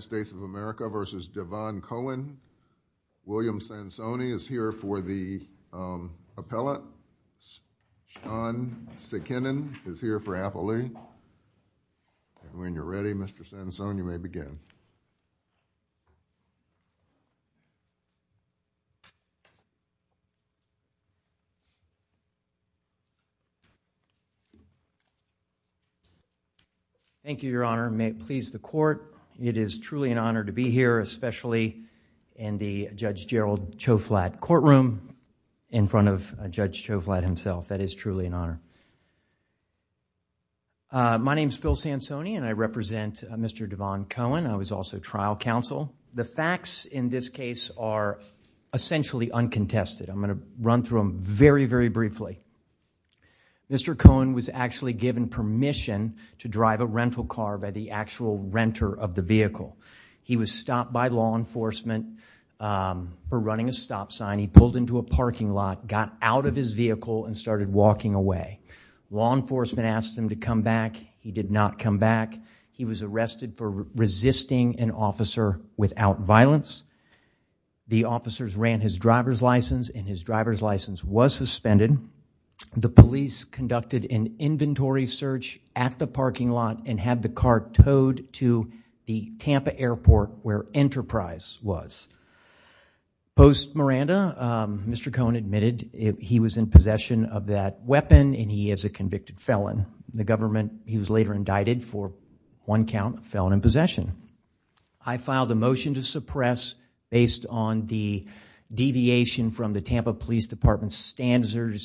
William Sansoni is here for the appellate Sean Sikinen is here for Applelea When you're ready Mr. Sansoni you may begin Thank you your honor, may it please the court It is truly an honor to be here especially in the Judge Gerald Choflat courtroom in front of Judge Choflat himself that is truly an honor My name is Bill Sansoni and I represent Mr. Devon Cohen I was also trial counsel The facts in this case are essentially uncontested I'm going to run through them very, very briefly Mr. Cohen was actually given permission to of the vehicle He was stopped by law enforcement for running a stop sign He pulled into a parking lot got out of his vehicle and started walking away Law enforcement asked him to come back He did not come back He was arrested for resisting an officer without violence The officers ran his driver's license and his driver's license was suspended The police conducted an inventory search at the parking lot and had the car towed to the Tampa Airport where Enterprise was Post Miranda Mr. Cohen admitted he was in possession of that weapon and he is a convicted felon The government he was later indicted for one count felon in possession I filed a motion to suppress based on the deviation from the Tampa Police Department standard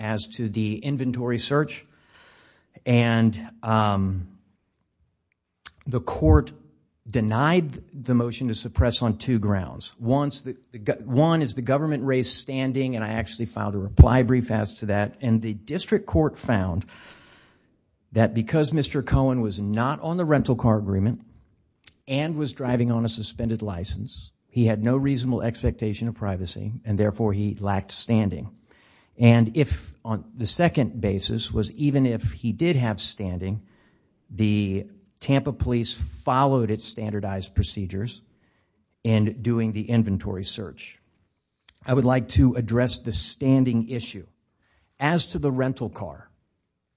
as to the inventory search and the court denied the motion to suppress on two grounds One is the government raised standing and I actually filed a reply brief as to that and the district court found that because Mr. Cohen was not on the rental car agreement and was driving on a suspended license he had no reasonable expectation of privacy and therefore he lacked standing and if on the second basis was even if he did have standing the Tampa Police followed its standardized procedures and doing the inventory search I would like to address the standing issue as to the rental car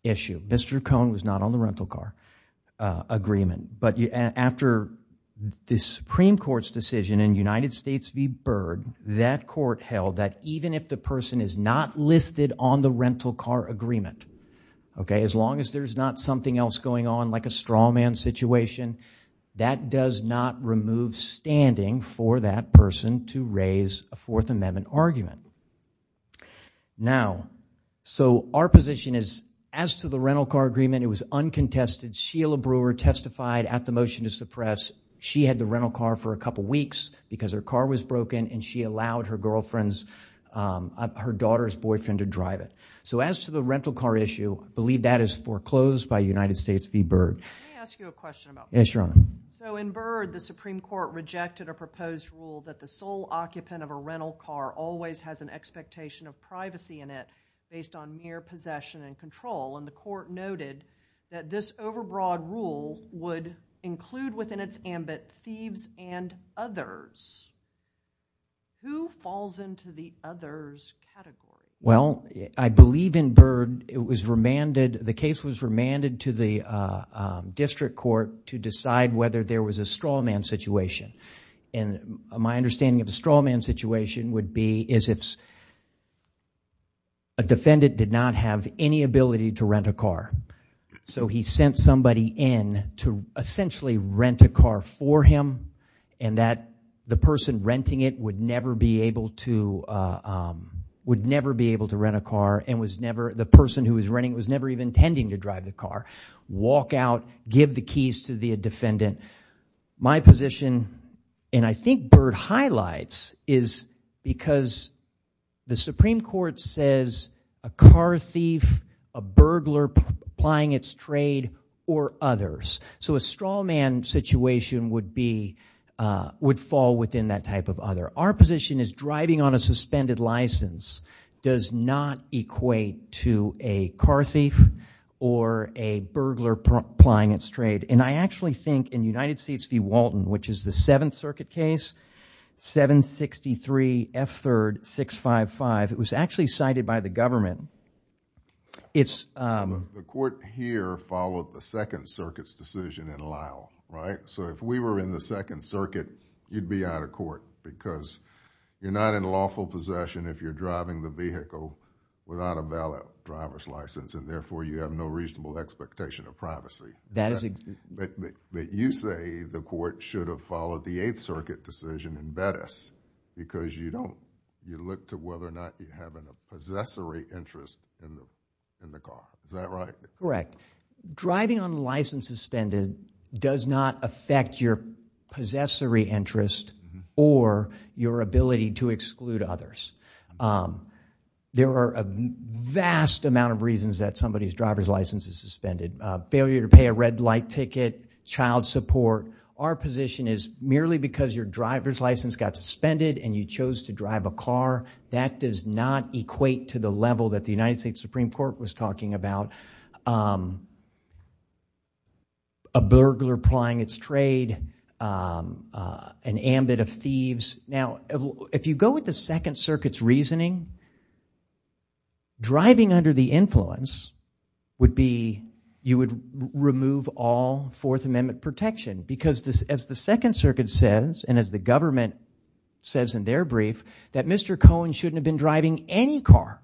issue Mr. Cohen was not on the rental car agreement but after the Supreme Court's decision in United States v. Byrd that court held that even if the person is not listed on the rental car agreement okay as long as there's not something else going on like a straw man situation that does not remove standing for that person to raise a Fourth Amendment argument Now so our position is as to the rental car agreement it was uncontested Sheila Brewer testified at the motion to suppress she had the rental car for a couple weeks because her car was broken and she allowed her girlfriend's her daughter's boyfriend to drive it so as to the rental car issue believe that is foreclosed by United States v. Byrd Yes your honor so in Byrd the Supreme Court rejected a proposed rule that the sole occupant of a rental car always has an expectation of privacy in it based on mere possession and control and the court noted that this ambit thieves and others who falls into the others category well I believe in Byrd it was remanded the case was remanded to the district court to decide whether there was a straw man situation and my understanding of the straw man situation would be is if a defendant did not have any ability to rent a car so he sent somebody in to essentially rent a car for him and that the person renting it would never be able to would never be able to rent a car and was never the person who is renting was never even intending to drive the car walk out give the keys to the defendant my position and I think Byrd highlights is because the Supreme Court says a car thief a burglar applying its trade or others so a straw man situation would be would fall within that type of other our position is driving on a suspended license does not equate to a car thief or a burglar applying its trade and I actually think in United States v. Walton which is the Seventh Circuit case 763 F third 655 it was actually cited by the government it's the court here followed the Second Circuit's decision in Lyle right so if we were in the Second Circuit you'd be out of court because you're not in lawful possession if you're driving the vehicle without a valid driver's license and therefore you have no reasonable expectation of privacy that is a but you say the court should have followed the Eighth Circuit decision in Bettis because you don't you look to whether or not you have a possessory interest in the car is that right correct driving on license suspended does not affect your possessory interest or your ability to exclude others there are a vast amount of reasons that somebody's driver's license is suspended failure to pay a red light ticket child support our position is merely because your driver's license got suspended and you chose to drive a car that does not equate to the level that the United States Supreme Court was talking about a burglar applying its trade an ambit of thieves now if you go with the Second Circuit's reasoning driving under the influence would be you would remove all Fourth Amendment protection because this as the Second Circuit says and as the government says in their brief that Mr. Cohen shouldn't have been driving any car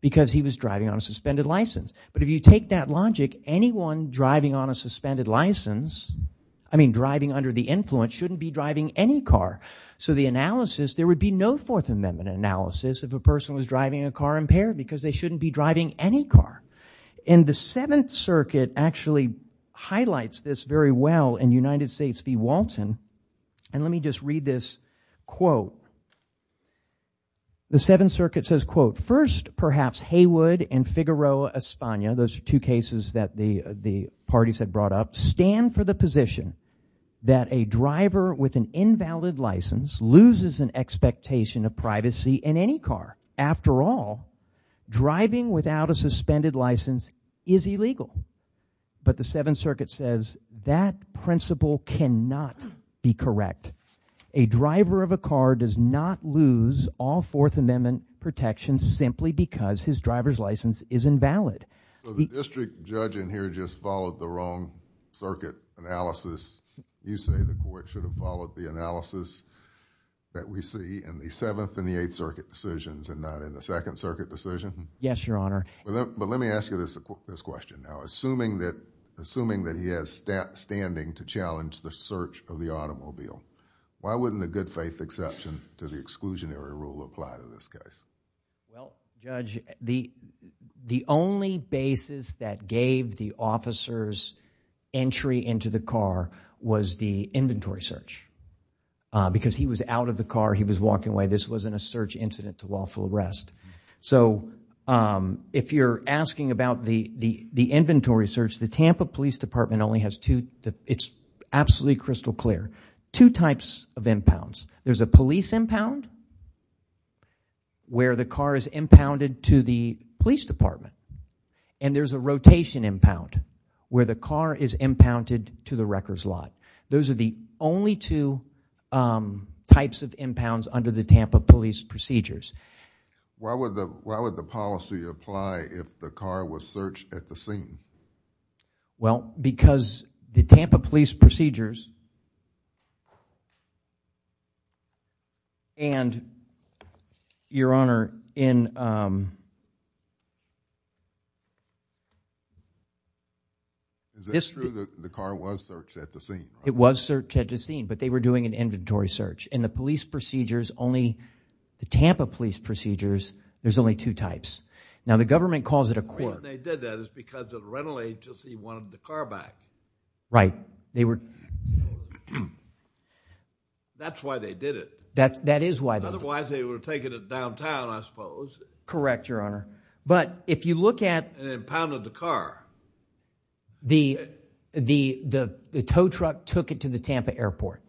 because he was driving on a suspended license but if you take that logic anyone driving on a suspended license I mean driving under the influence shouldn't be driving any car so the analysis there would be no Fourth Amendment analysis if a person was driving a car impaired because they shouldn't be driving any car in the Seventh Circuit actually highlights this very well in United States v. Walton and let me just read this quote the Seventh Circuit says quote first perhaps Heywood and Figueroa Espana those two cases that the the parties had brought up stand for the position that a driver with an invalid license loses an expectation of privacy in any car after all driving without a suspended license is illegal but the Seventh Circuit says that principle cannot be correct a driver of a car does not lose all Fourth Amendment protection simply because his driver's license is invalid the district judge in here just followed the wrong circuit analysis you say the court should have followed the analysis that we see in the Seventh and the Eighth Circuit decisions and not in the Second Circuit decision yes your honor but let me ask you this this question now assuming that assuming that he has step standing to challenge the search of the automobile why wouldn't the good faith exception to the exclusionary rule apply to this case well judge the the only basis that gave the officers entry into the car was the inventory search because he was out of the car he was walking away this wasn't a search incident to lawful arrest so if you're asking about the the the it's absolutely crystal clear two types of impounds there's a police impound where the car is impounded to the police department and there's a rotation impound where the car is impounded to the wrecker's lot those are the only two types of impounds under the Tampa police procedures why would the why would the policy apply if the car was searched at the scene well because the Tampa police procedures and your honor in is this true that the car was searched at the scene it was searched at the scene but they were doing an inventory search and the police procedures only the Tampa police procedures there's only two types now the government calls it a court they did that is because of rental agency wanted the car back right they were that's why they did it that's that is why otherwise they were taking it downtown I suppose correct your honor but if you look at and impounded the car the the the the tow truck took it to the Tampa Airport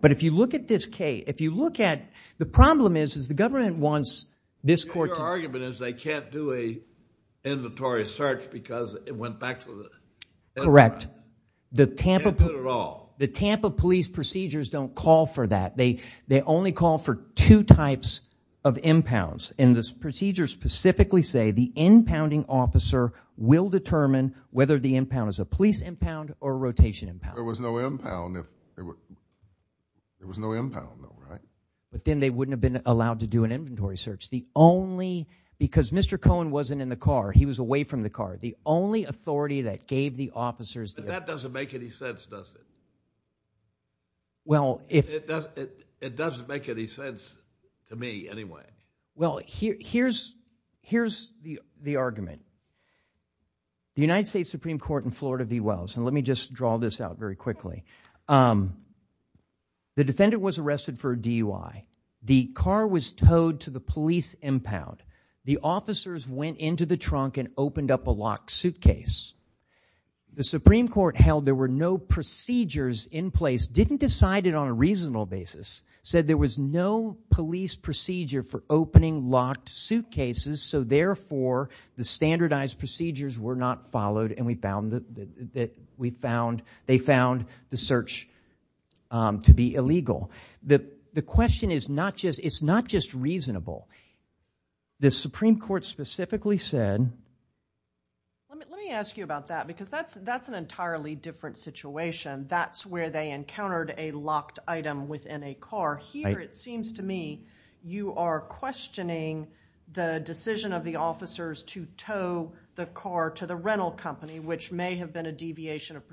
but if you look at this case if you look at the problem is is the government wants this court argument is they can't do a inventory search because it went back to the correct the Tampa at all the Tampa police procedures don't call for that they they only call for two types of impounds in this procedure specifically say the impounding officer will determine whether the impound is a police impound or rotation impound there was no to do an inventory search the only because mr. Cohen wasn't in the car he was away from the car the only authority that gave the officers that doesn't make any sense does it well if it doesn't make any sense to me anyway well here's here's the the argument the United States Supreme Court in Florida v Wells and let me just draw this out very quickly the defendant was arrested for a DUI the car was towed to the police impound the officers went into the trunk and opened up a locked suitcase the Supreme Court held there were no procedures in place didn't decide it on a reasonable basis said there was no police procedure for opening locked suitcases so therefore the standardized procedures were not followed and we found that that we found they found the search to be illegal that the question is not just it's not just reasonable the Supreme Court specifically said let me ask you about that because that's that's an entirely different situation that's where they encountered a locked item within a car here it seems to me you are questioning the decision of the officers to tow the car to the rental company which may have been a deviation of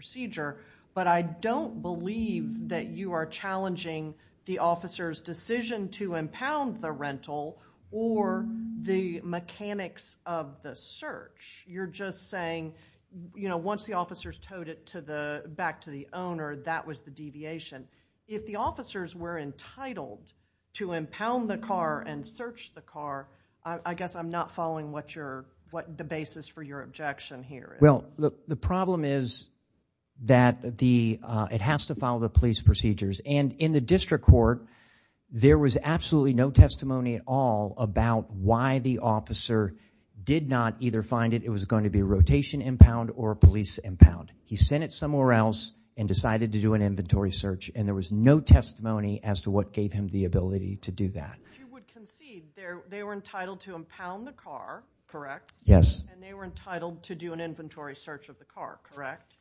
the officers decision to impound the rental or the mechanics of the search you're just saying you know once the officers towed it to the back to the owner that was the deviation if the officers were entitled to impound the car and search the car I guess I'm not following what you're what the basis for your objection here well the problem is that the it has to follow the police procedures and in the district court there was absolutely no testimony at all about why the officer did not either find it it was going to be a rotation impound or a police impound he sent it somewhere else and decided to do an inventory search and there was no testimony as to what gave him the ability to do that they were entitled to impound the car correct yes and they were entitled to do an inventory search of the car correct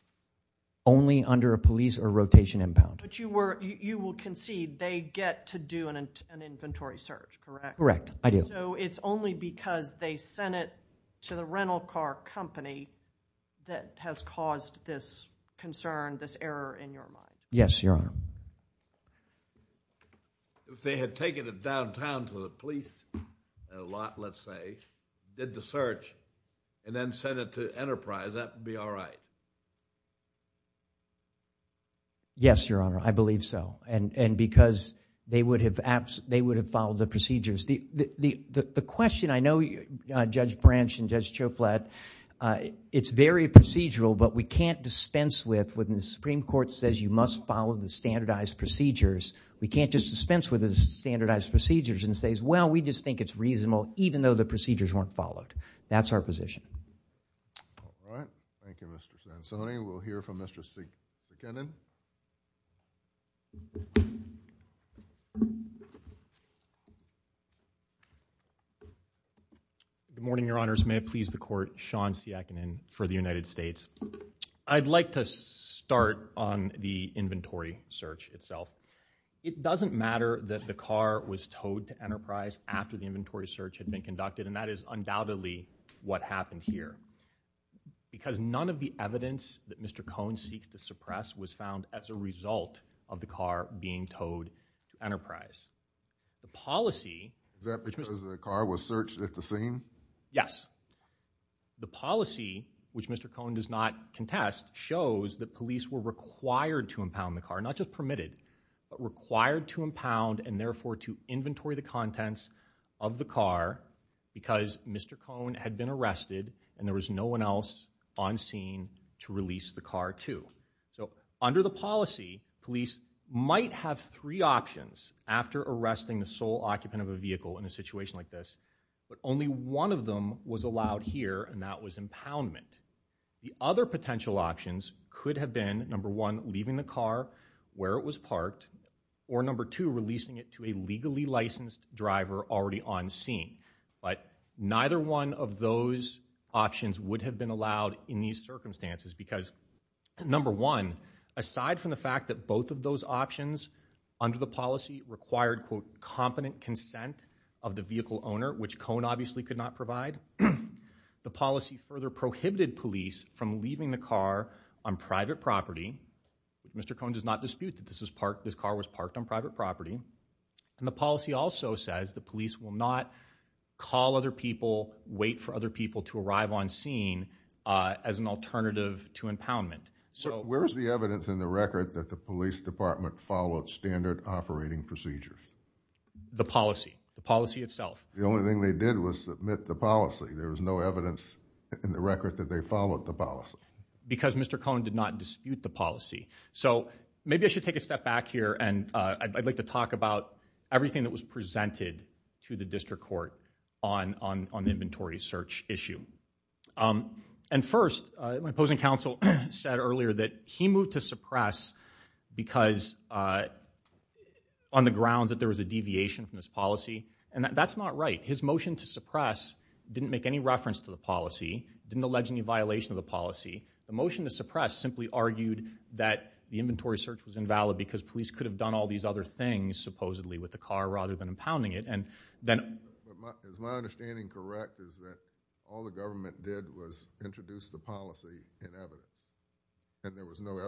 only under a police or rotation impound but you were you will concede they get to do an inventory search correct correct I do so it's only because they sent it to the rental car company that has caused this concern this error in your mind yes your honor they had taken it downtown to the police a lot let's say did the search and then sent it to enterprise that would be all right yes your honor I believe so and and because they would have apps they would have followed the procedures the the the question I know you judge branch and judge Joe flat it's very procedural but we can't dispense with when the Supreme Court says you must follow the standardized procedures we can't just dispense with the standardized procedures and says well we just think it's reasonable even though the procedures weren't followed that's our position all right thank you mr. Sanzoni we'll hear from mr. C Kenan good morning your honors may it please the court Sean see I can in for the United States I'd like to start on the inventory search itself it doesn't matter that the car was towed to enterprise after the inventory search had been conducted and that is undoubtedly what happened here because none of the evidence that mr. Cohn seeks to suppress was found as a result of the car being towed enterprise the policy that because the car was searched at the scene yes the policy which mr. Cohn does not contest shows that police were required to impound the car not just permitted but required to impound and therefore to inventory the contents of the car because mr. Cohn had been arrested and there was no one else on scene to release the car to so under the policy police might have three options after arresting the sole occupant of a vehicle in a situation like this but only one of them was allowed here and that was impoundment the other potential options could have been number one leaving the car where it was parked or number two releasing it to a legally licensed driver already on scene but neither one of those options would have been allowed in these circumstances because number one aside from the fact that both of those options under the policy required quote competent consent of the vehicle owner which Cohn obviously could not provide the policy further prohibited police from leaving the car on private property mr. Cohn does not dispute that this is parked this car was parked on private property and the policy also says the police will not call other people wait for other people to arrive on scene as an alternative to impoundment so where's the evidence in the record that the police department followed standard operating procedures the policy the policy itself the only thing they did was submit the policy there was no evidence in the record that they followed the policy because mr. Cohn did not dispute the policy so maybe I should take a step back here and I'd like to talk about everything that was presented to the district court on on the inventory search issue and first my opposing counsel said earlier that he moved to suppress because on the grounds that there was a deviation from this policy and that that's not right his motion to suppress didn't make any reference to the policy didn't allege any violation of the policy the motion to suppress simply argued that the inventory search was invalid because police could have done all these other things supposedly with the car rather than impounding it and then all the government did was introduce the policy in evidence and there was no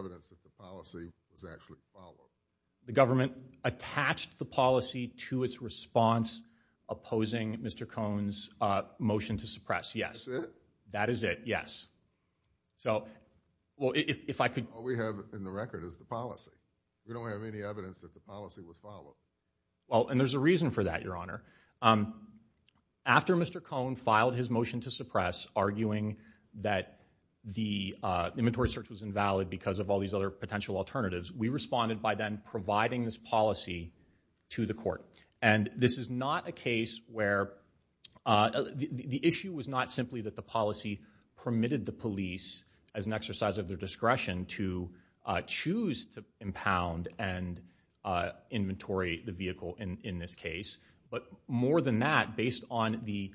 opposing mr. Cohn's motion to suppress yes that is it yes so well if I could we have in the record is the policy we don't have any evidence that the policy was followed well and there's a reason for that your honor after mr. Cohn filed his motion to suppress arguing that the inventory search was invalid because of all these other potential alternatives we responded by then providing this policy to the court and this is not a case where the issue was not simply that the policy permitted the police as an exercise of their discretion to choose to impound and inventory the vehicle in this case but more than that based on the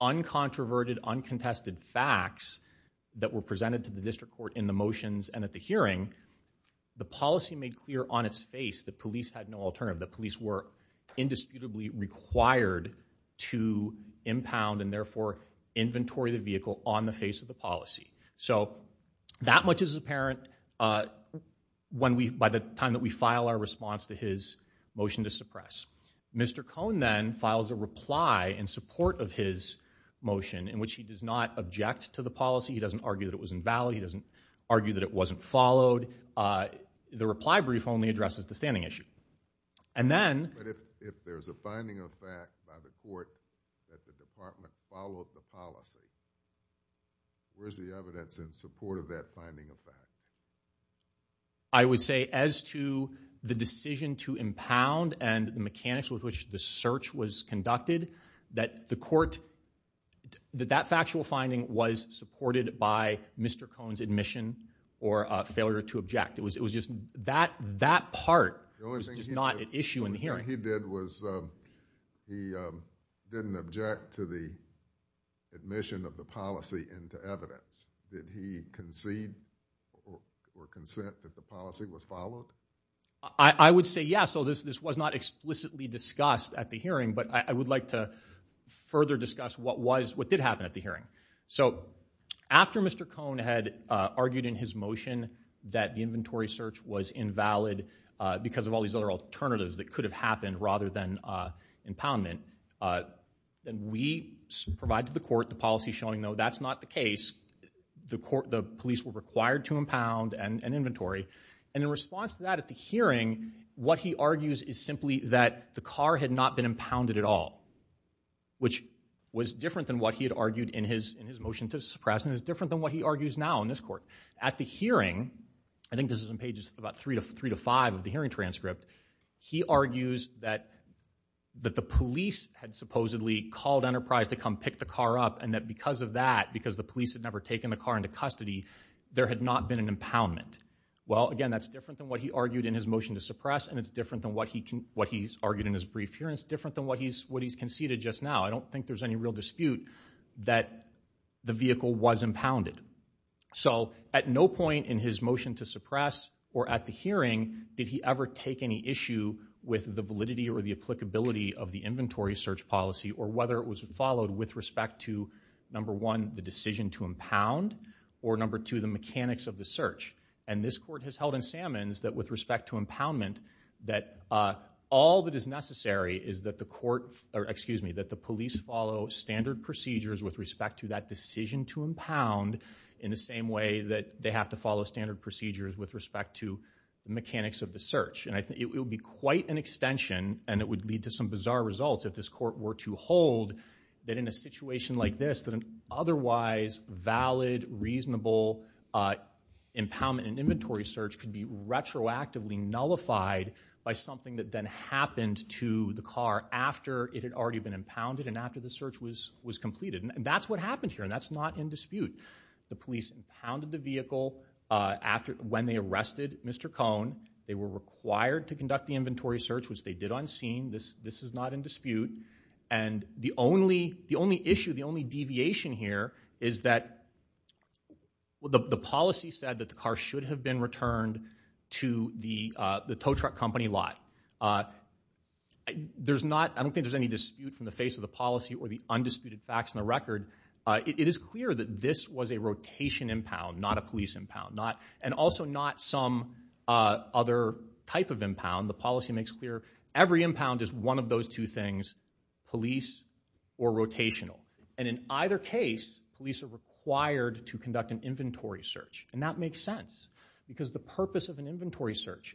uncontroverted uncontested facts that were presented to the district court in the motions and at the hearing the policy made clear on its face the police had no alternative the police were indisputably required to impound and therefore inventory the vehicle on the face of the policy so that much is apparent when we by the time that we file our response to his motion to suppress mr. Cohn then files a reply in support of his motion in which he does not object to the policy he doesn't argue that it was invalid he doesn't argue that it wasn't followed the reply brief only addresses the standing issue and then I would say as to the decision to impound and the mechanics with which the search was conducted that the court that that factual finding was supported by mr. Cohn's admission or failure to object it was it was just that that part is not an issue in the hearing he did was he didn't object to the admission of the policy into evidence did he concede or consent that the policy was followed I would say yes so this this was not explicitly discussed at the hearing but I would like to further discuss what was what did happen at the hearing so after mr. Cohn had argued in his motion that the inventory search was invalid because of all these other alternatives that could have happened rather than impoundment then we provide to the court the policy showing though that's not the case the court the police were required to impound and inventory and in response to that at the hearing what he argues is simply that the car had not been impounded at all which was different than what he had argued in his in his motion to suppress and is different than what he argues now in this court at the hearing I think this is in pages about three to three to five of the hearing transcript he argues that that the police had supposedly called Enterprise to come pick the because the police had never taken the car into custody there had not been an impoundment well again that's different than what he argued in his motion to suppress and it's different than what he can what he's argued in his brief here it's different than what he's what he's conceded just now I don't think there's any real dispute that the vehicle was impounded so at no point in his motion to suppress or at the hearing did he ever take any issue with the validity or the applicability of the inventory search policy or whether it was followed with respect to number one the decision to impound or number two the mechanics of the search and this court has held in salmon's that with respect to impoundment that all that is necessary is that the court or excuse me that the police follow standard procedures with respect to that decision to impound in the same way that they have to follow standard procedures with respect to the mechanics of the search and I think it would be quite an extension and it would lead to some bizarre results if this court were to hold that in a situation like this that an otherwise valid reasonable impoundment and inventory search can be retroactively nullified by something that then happened to the car after it had already been impounded and after the search was was completed and that's what happened here and that's not in dispute the police impounded the vehicle after when they arrested mr. Cohn they were required to conduct the inventory search which they did unseen this this is not in dispute and the only the only issue the only deviation here is that the policy said that the car should have been returned to the the tow truck company lot there's not I don't think there's any dispute from the face of the policy or the undisputed facts in the record it is clear that this was a rotation impound not a police impound not and also not some other type of impound the policy makes clear every impound is one of those two things police or rotational and in either case police are required to conduct an inventory search and that makes sense because the purpose of an inventory search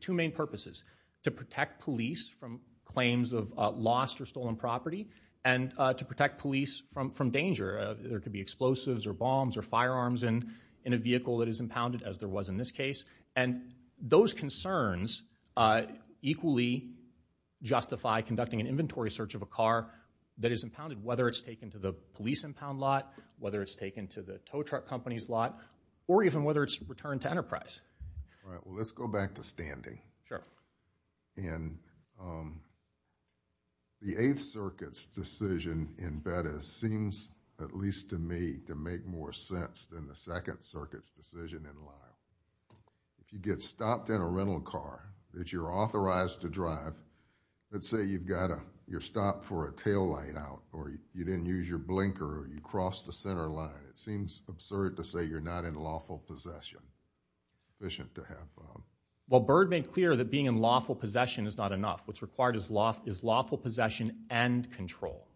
two main purposes to protect police from claims of lost or stolen property and to protect police from from danger there could be explosives or bombs or firearms and in a vehicle that is impounded as there was in this case and those concerns equally justify conducting an inventory search of a car that is impounded whether it's taken to the police impound lot whether it's taken to the tow truck company's lot or even whether it's returned to Enterprise let's go back to standing sure and the Eighth Circuit's decision in bed it seems at least to me to make more sense than the Second Circuit's get stopped in a rental car that you're authorized to drive let's say you've got a your stop for a taillight out or you didn't use your blinker you cross the center line it seems absurd to say you're not in lawful possession efficient to have well bird made clear that being in lawful possession is not enough what's required is loft is lawful possession and control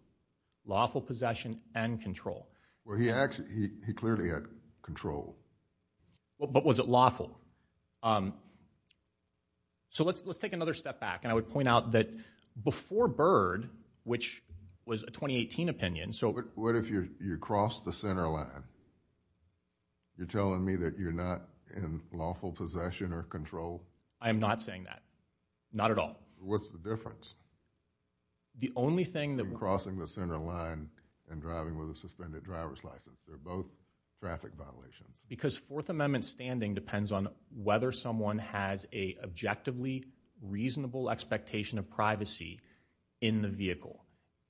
lawful possession and control well he actually he clearly had control but was it lawful so let's let's take another step back and I would point out that before bird which was a 2018 opinion so what if you you cross the center line you're telling me that you're not in lawful possession or control I am NOT saying that not at all what's the difference the only thing that crossing the center line and driving with a suspended driver's license they're both traffic violations because Fourth Amendment standing depends on whether someone has a objectively reasonable expectation of privacy in the vehicle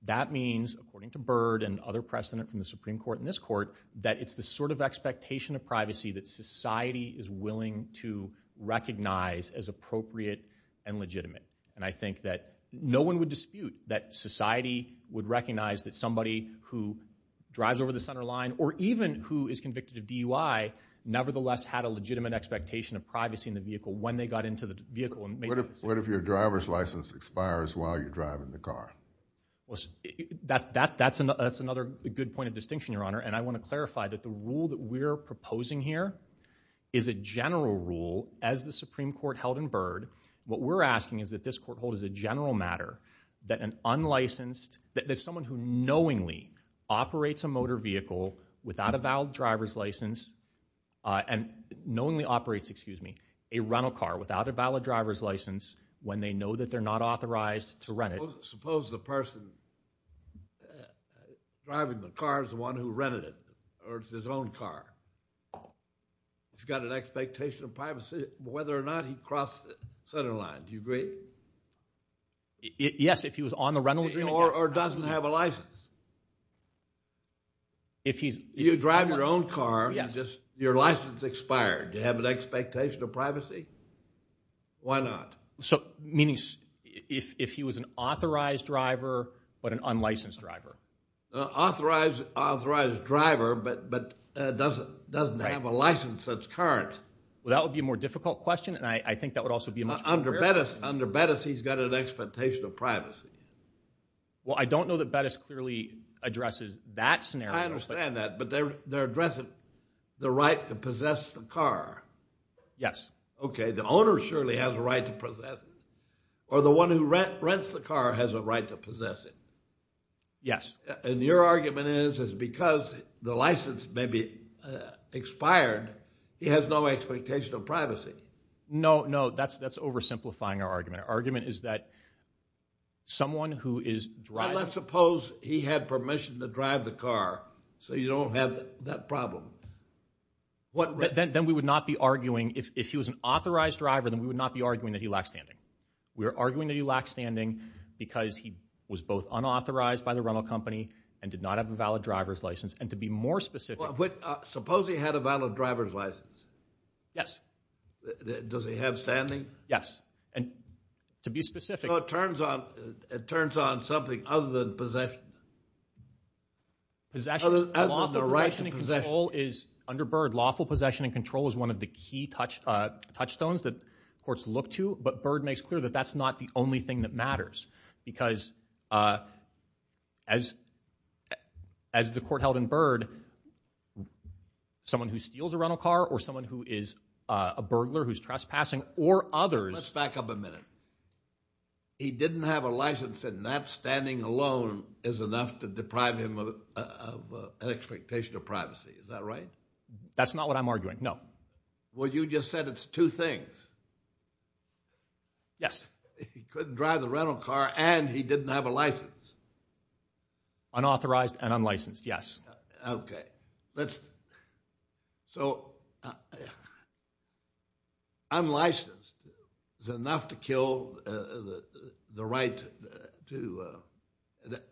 that means according to bird and other precedent from the Supreme Court in this court that it's the sort of expectation of privacy that society is willing to recognize as appropriate and legitimate and I think that no one would dispute that society would recognize that somebody who drives over the center line or even who is convicted of DUI nevertheless had a legitimate expectation of privacy in the vehicle when they got into the vehicle and what if your driver's license expires while you're driving the car that's that that's another that's another good point of distinction your honor and I want to clarify that the rule that we're proposing here is a general rule as the Supreme Court held in bird what we're asking is that this court hold is a general matter that an unlicensed that someone who knowingly operates a motor vehicle without a valid driver's license and knowingly operates excuse me a rental car without a valid driver's license when they know that they're not authorized to rent it suppose the person driving the car is the one who rented it or his own car oh he's got an expectation of whether or not he crossed the center line you great yes if he was on the rental or doesn't have a license if he's you drive your own car yes just your license expired you have an expectation of privacy why not so meanings if he was an authorized driver but an unlicensed driver authorized authorized driver but but doesn't doesn't have a license that's current well that would be a more difficult question and I think that would also be my under betters under betters he's got an expectation of privacy well I don't know that Bettis clearly addresses that scenario understand that but they're they're addressing the right to possess the car yes okay the owner surely has a right to possess or the one who rent rents the car has a right to possess it yes and your argument is is because the license may be expired he has no expectation of privacy no no that's that's oversimplifying our argument argument is that someone who is right let's suppose he had permission to drive the car so you don't have that problem what then we would not be arguing if he was an authorized driver then we would not be arguing that he lacks standing we was both unauthorized by the rental company and did not have a valid driver's license and to be more specific what suppose he had a valid driver's license yes does he have standing yes and to be specific what turns on it turns on something other than possession is actually under bird lawful possession and control is one of the key touch touchstones that courts look to but bird makes clear that that's not the only thing that matters because as as the court held in bird someone who steals a rental car or someone who is a burglar who's trespassing or others back up a minute he didn't have a license and that standing alone is enough to deprive him of an expectation of privacy is that right that's not what I'm arguing no well you just said it's two things yes couldn't drive the rental car and he didn't have a license unauthorized and unlicensed yes okay let's so I'm licensed is enough to kill the right to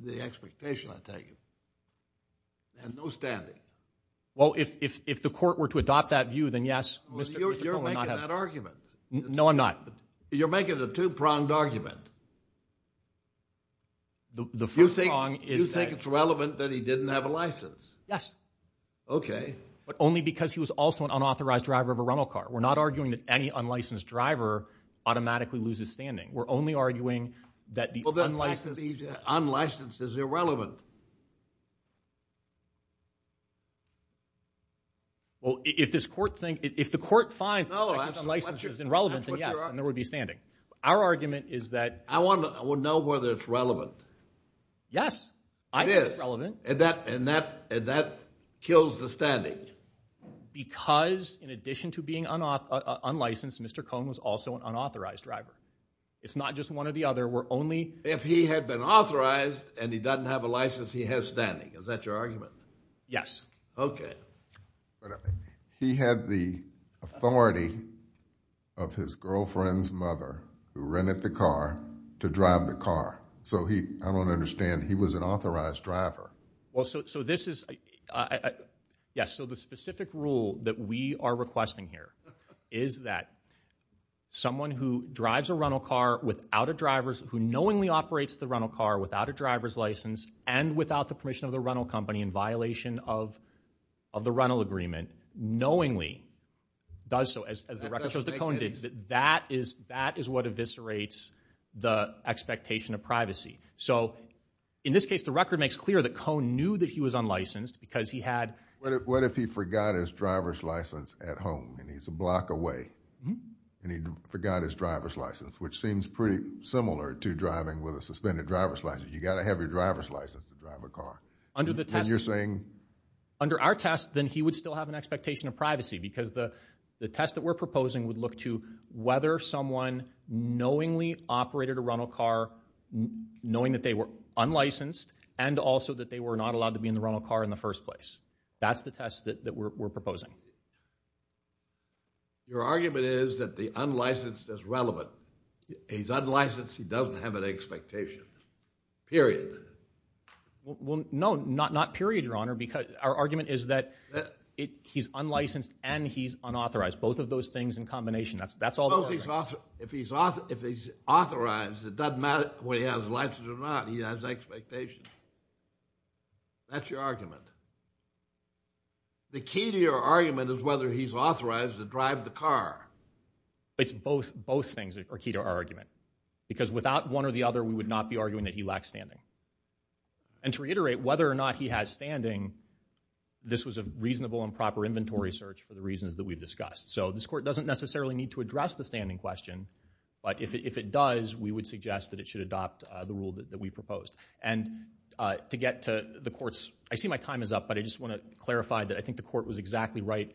the expectation I take and no standing well if if the court were to adopt that view then yes mr. argument no I'm not you're making it a two-pronged argument the first thing is relevant that he didn't have a license yes okay but only because he was also an unauthorized driver of a rental car we're not arguing that any unlicensed driver automatically loses standing we're only arguing that the other unlicensed unlicensed is irrelevant well if this court thing if the court finds it's irrelevant and yes and there would be standing our argument is that I want to know whether it's relevant yes I did relevant and that and that and that kills the standing because in addition to being on off unlicensed mr. Cohn was also an unauthorized driver it's not just one or the other we're only if he had been authorized and he doesn't have a license he has standing is that your argument yes okay he had the authority of his girlfriend's mother who rented the car to drive the car so he I don't understand he was an authorized driver well so this is yes so the specific rule that we are requesting here is that someone who drives a rental car without a driver's who knowingly operates the rental car without a driver's license and without the permission of the rental company in violation of of the rental agreement knowingly does so as the record shows that that is that is what eviscerates the expectation of privacy so in this case the record makes clear that Cohn knew that he was unlicensed because he had what if he forgot his driver's license at home and he's a block away and he forgot his driver's license which seems pretty similar to driving with a suspended driver's license you got a heavy driver's license to drive a car under the time you're saying under our test then he would still have an expectation of privacy because the the test that we're proposing would look to whether someone knowingly operated a rental car knowing that they were unlicensed and also that they were not allowed to be in the rental car in the first place that's the test that we're proposing your argument is that the no not not period your honor because our argument is that he's unlicensed and he's unauthorized both of those things in combination that's that's all if he's off if he's off if he's authorized it doesn't matter what he has license or not he has expectations that's your argument the key to your argument is whether he's authorized to drive the car it's both both things that are key to our argument because without one or the other we would not be arguing that he lacks standing and to reiterate whether or not he has standing this was a reasonable and proper inventory search for the reasons that we've discussed so this court doesn't necessarily need to address the standing question but if it does we would suggest that it should adopt the rule that we proposed and to get to the courts I see my time is up but I just want to clarify that I think the court was exactly right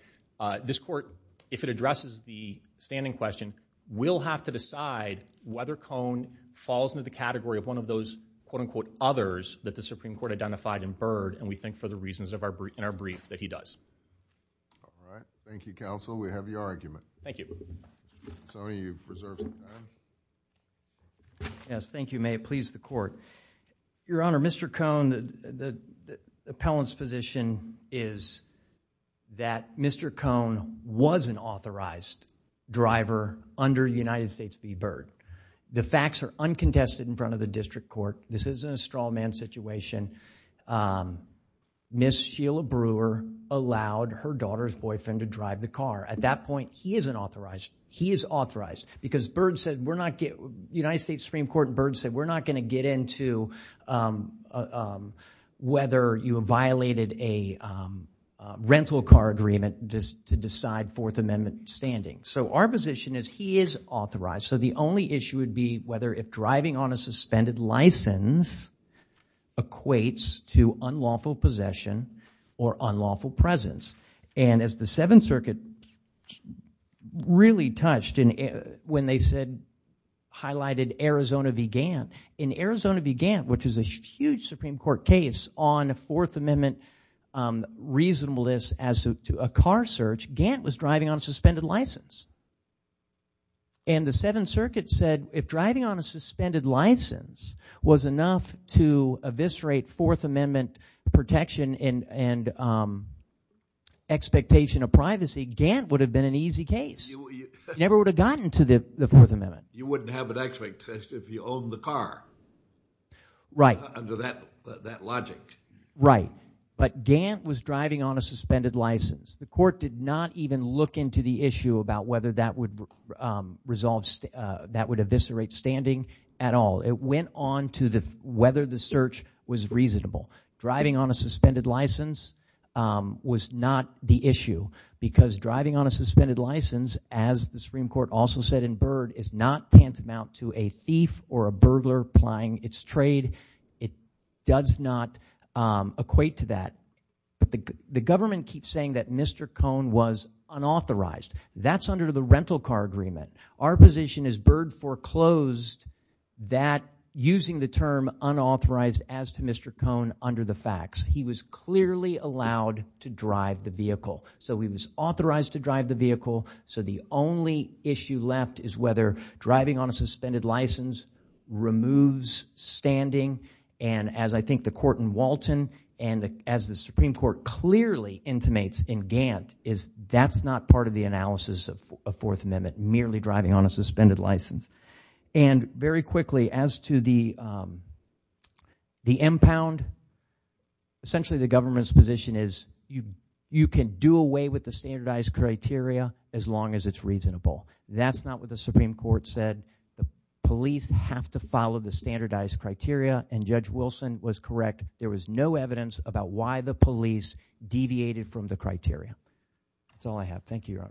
this court if it addresses the standing question we'll have to decide whether the category of one of those quote-unquote others that the Supreme Court identified in Byrd and we think for the reasons of our brief in our brief that he does thank you counsel we have your argument thank you yes thank you may it please the court your honor mr. Cohn the appellants position is that mr. Cohn was an authorized driver under the United States v. Byrd the facts are uncontested in front of the district court this isn't a straw man situation miss Sheila Brewer allowed her daughter's boyfriend to drive the car at that point he isn't authorized he is authorized because Byrd said we're not get United States Supreme Court Byrd said we're not going to get into whether you violated a rental car agreement just to decide Fourth Amendment standing so our position is he is authorized so the only issue would be whether if driving on a suspended license equates to unlawful possession or unlawful presence and as the Seventh Circuit really touched in it when they said highlighted Arizona began in Arizona began which is a huge Supreme Court case on a Fourth Amendment reasonableness as to a car search Gantt was driving on a suspended license and the Seventh Circuit said if driving on a suspended license was enough to eviscerate Fourth Amendment protection in and expectation of privacy Gantt would have been an easy case never would have gotten to the Fourth Amendment you wouldn't have an x-ray test if you own the car right under that that logic right but Gantt was driving on a suspended license the court did not even look into the issue about whether that would resolve that would eviscerate standing at all it went on to the whether the search was reasonable driving on a suspended license was not the issue because driving on a suspended license as the Supreme Court also said in Byrd is not tantamount to a thief or a burglar plying its trade it does not equate to that but the government keeps saying that mr. Cohn was unauthorized that's under the rental car agreement our position is Byrd foreclosed that using the term unauthorized as to mr. Cohn under the facts he was clearly allowed to drive the vehicle so he was authorized to drive the vehicle so the only issue left is whether driving on a suspended license removes standing and as I think the Supreme Court clearly intimates in Gantt is that's not part of the analysis of a Fourth Amendment merely driving on a suspended license and very quickly as to the the impound essentially the government's position is you you can do away with the standardized criteria as long as it's reasonable that's not what the Supreme Court said the police have to follow the standardized criteria and judge Wilson was correct there was no evidence about why the police deviated from the criteria that's all I have thank you your honor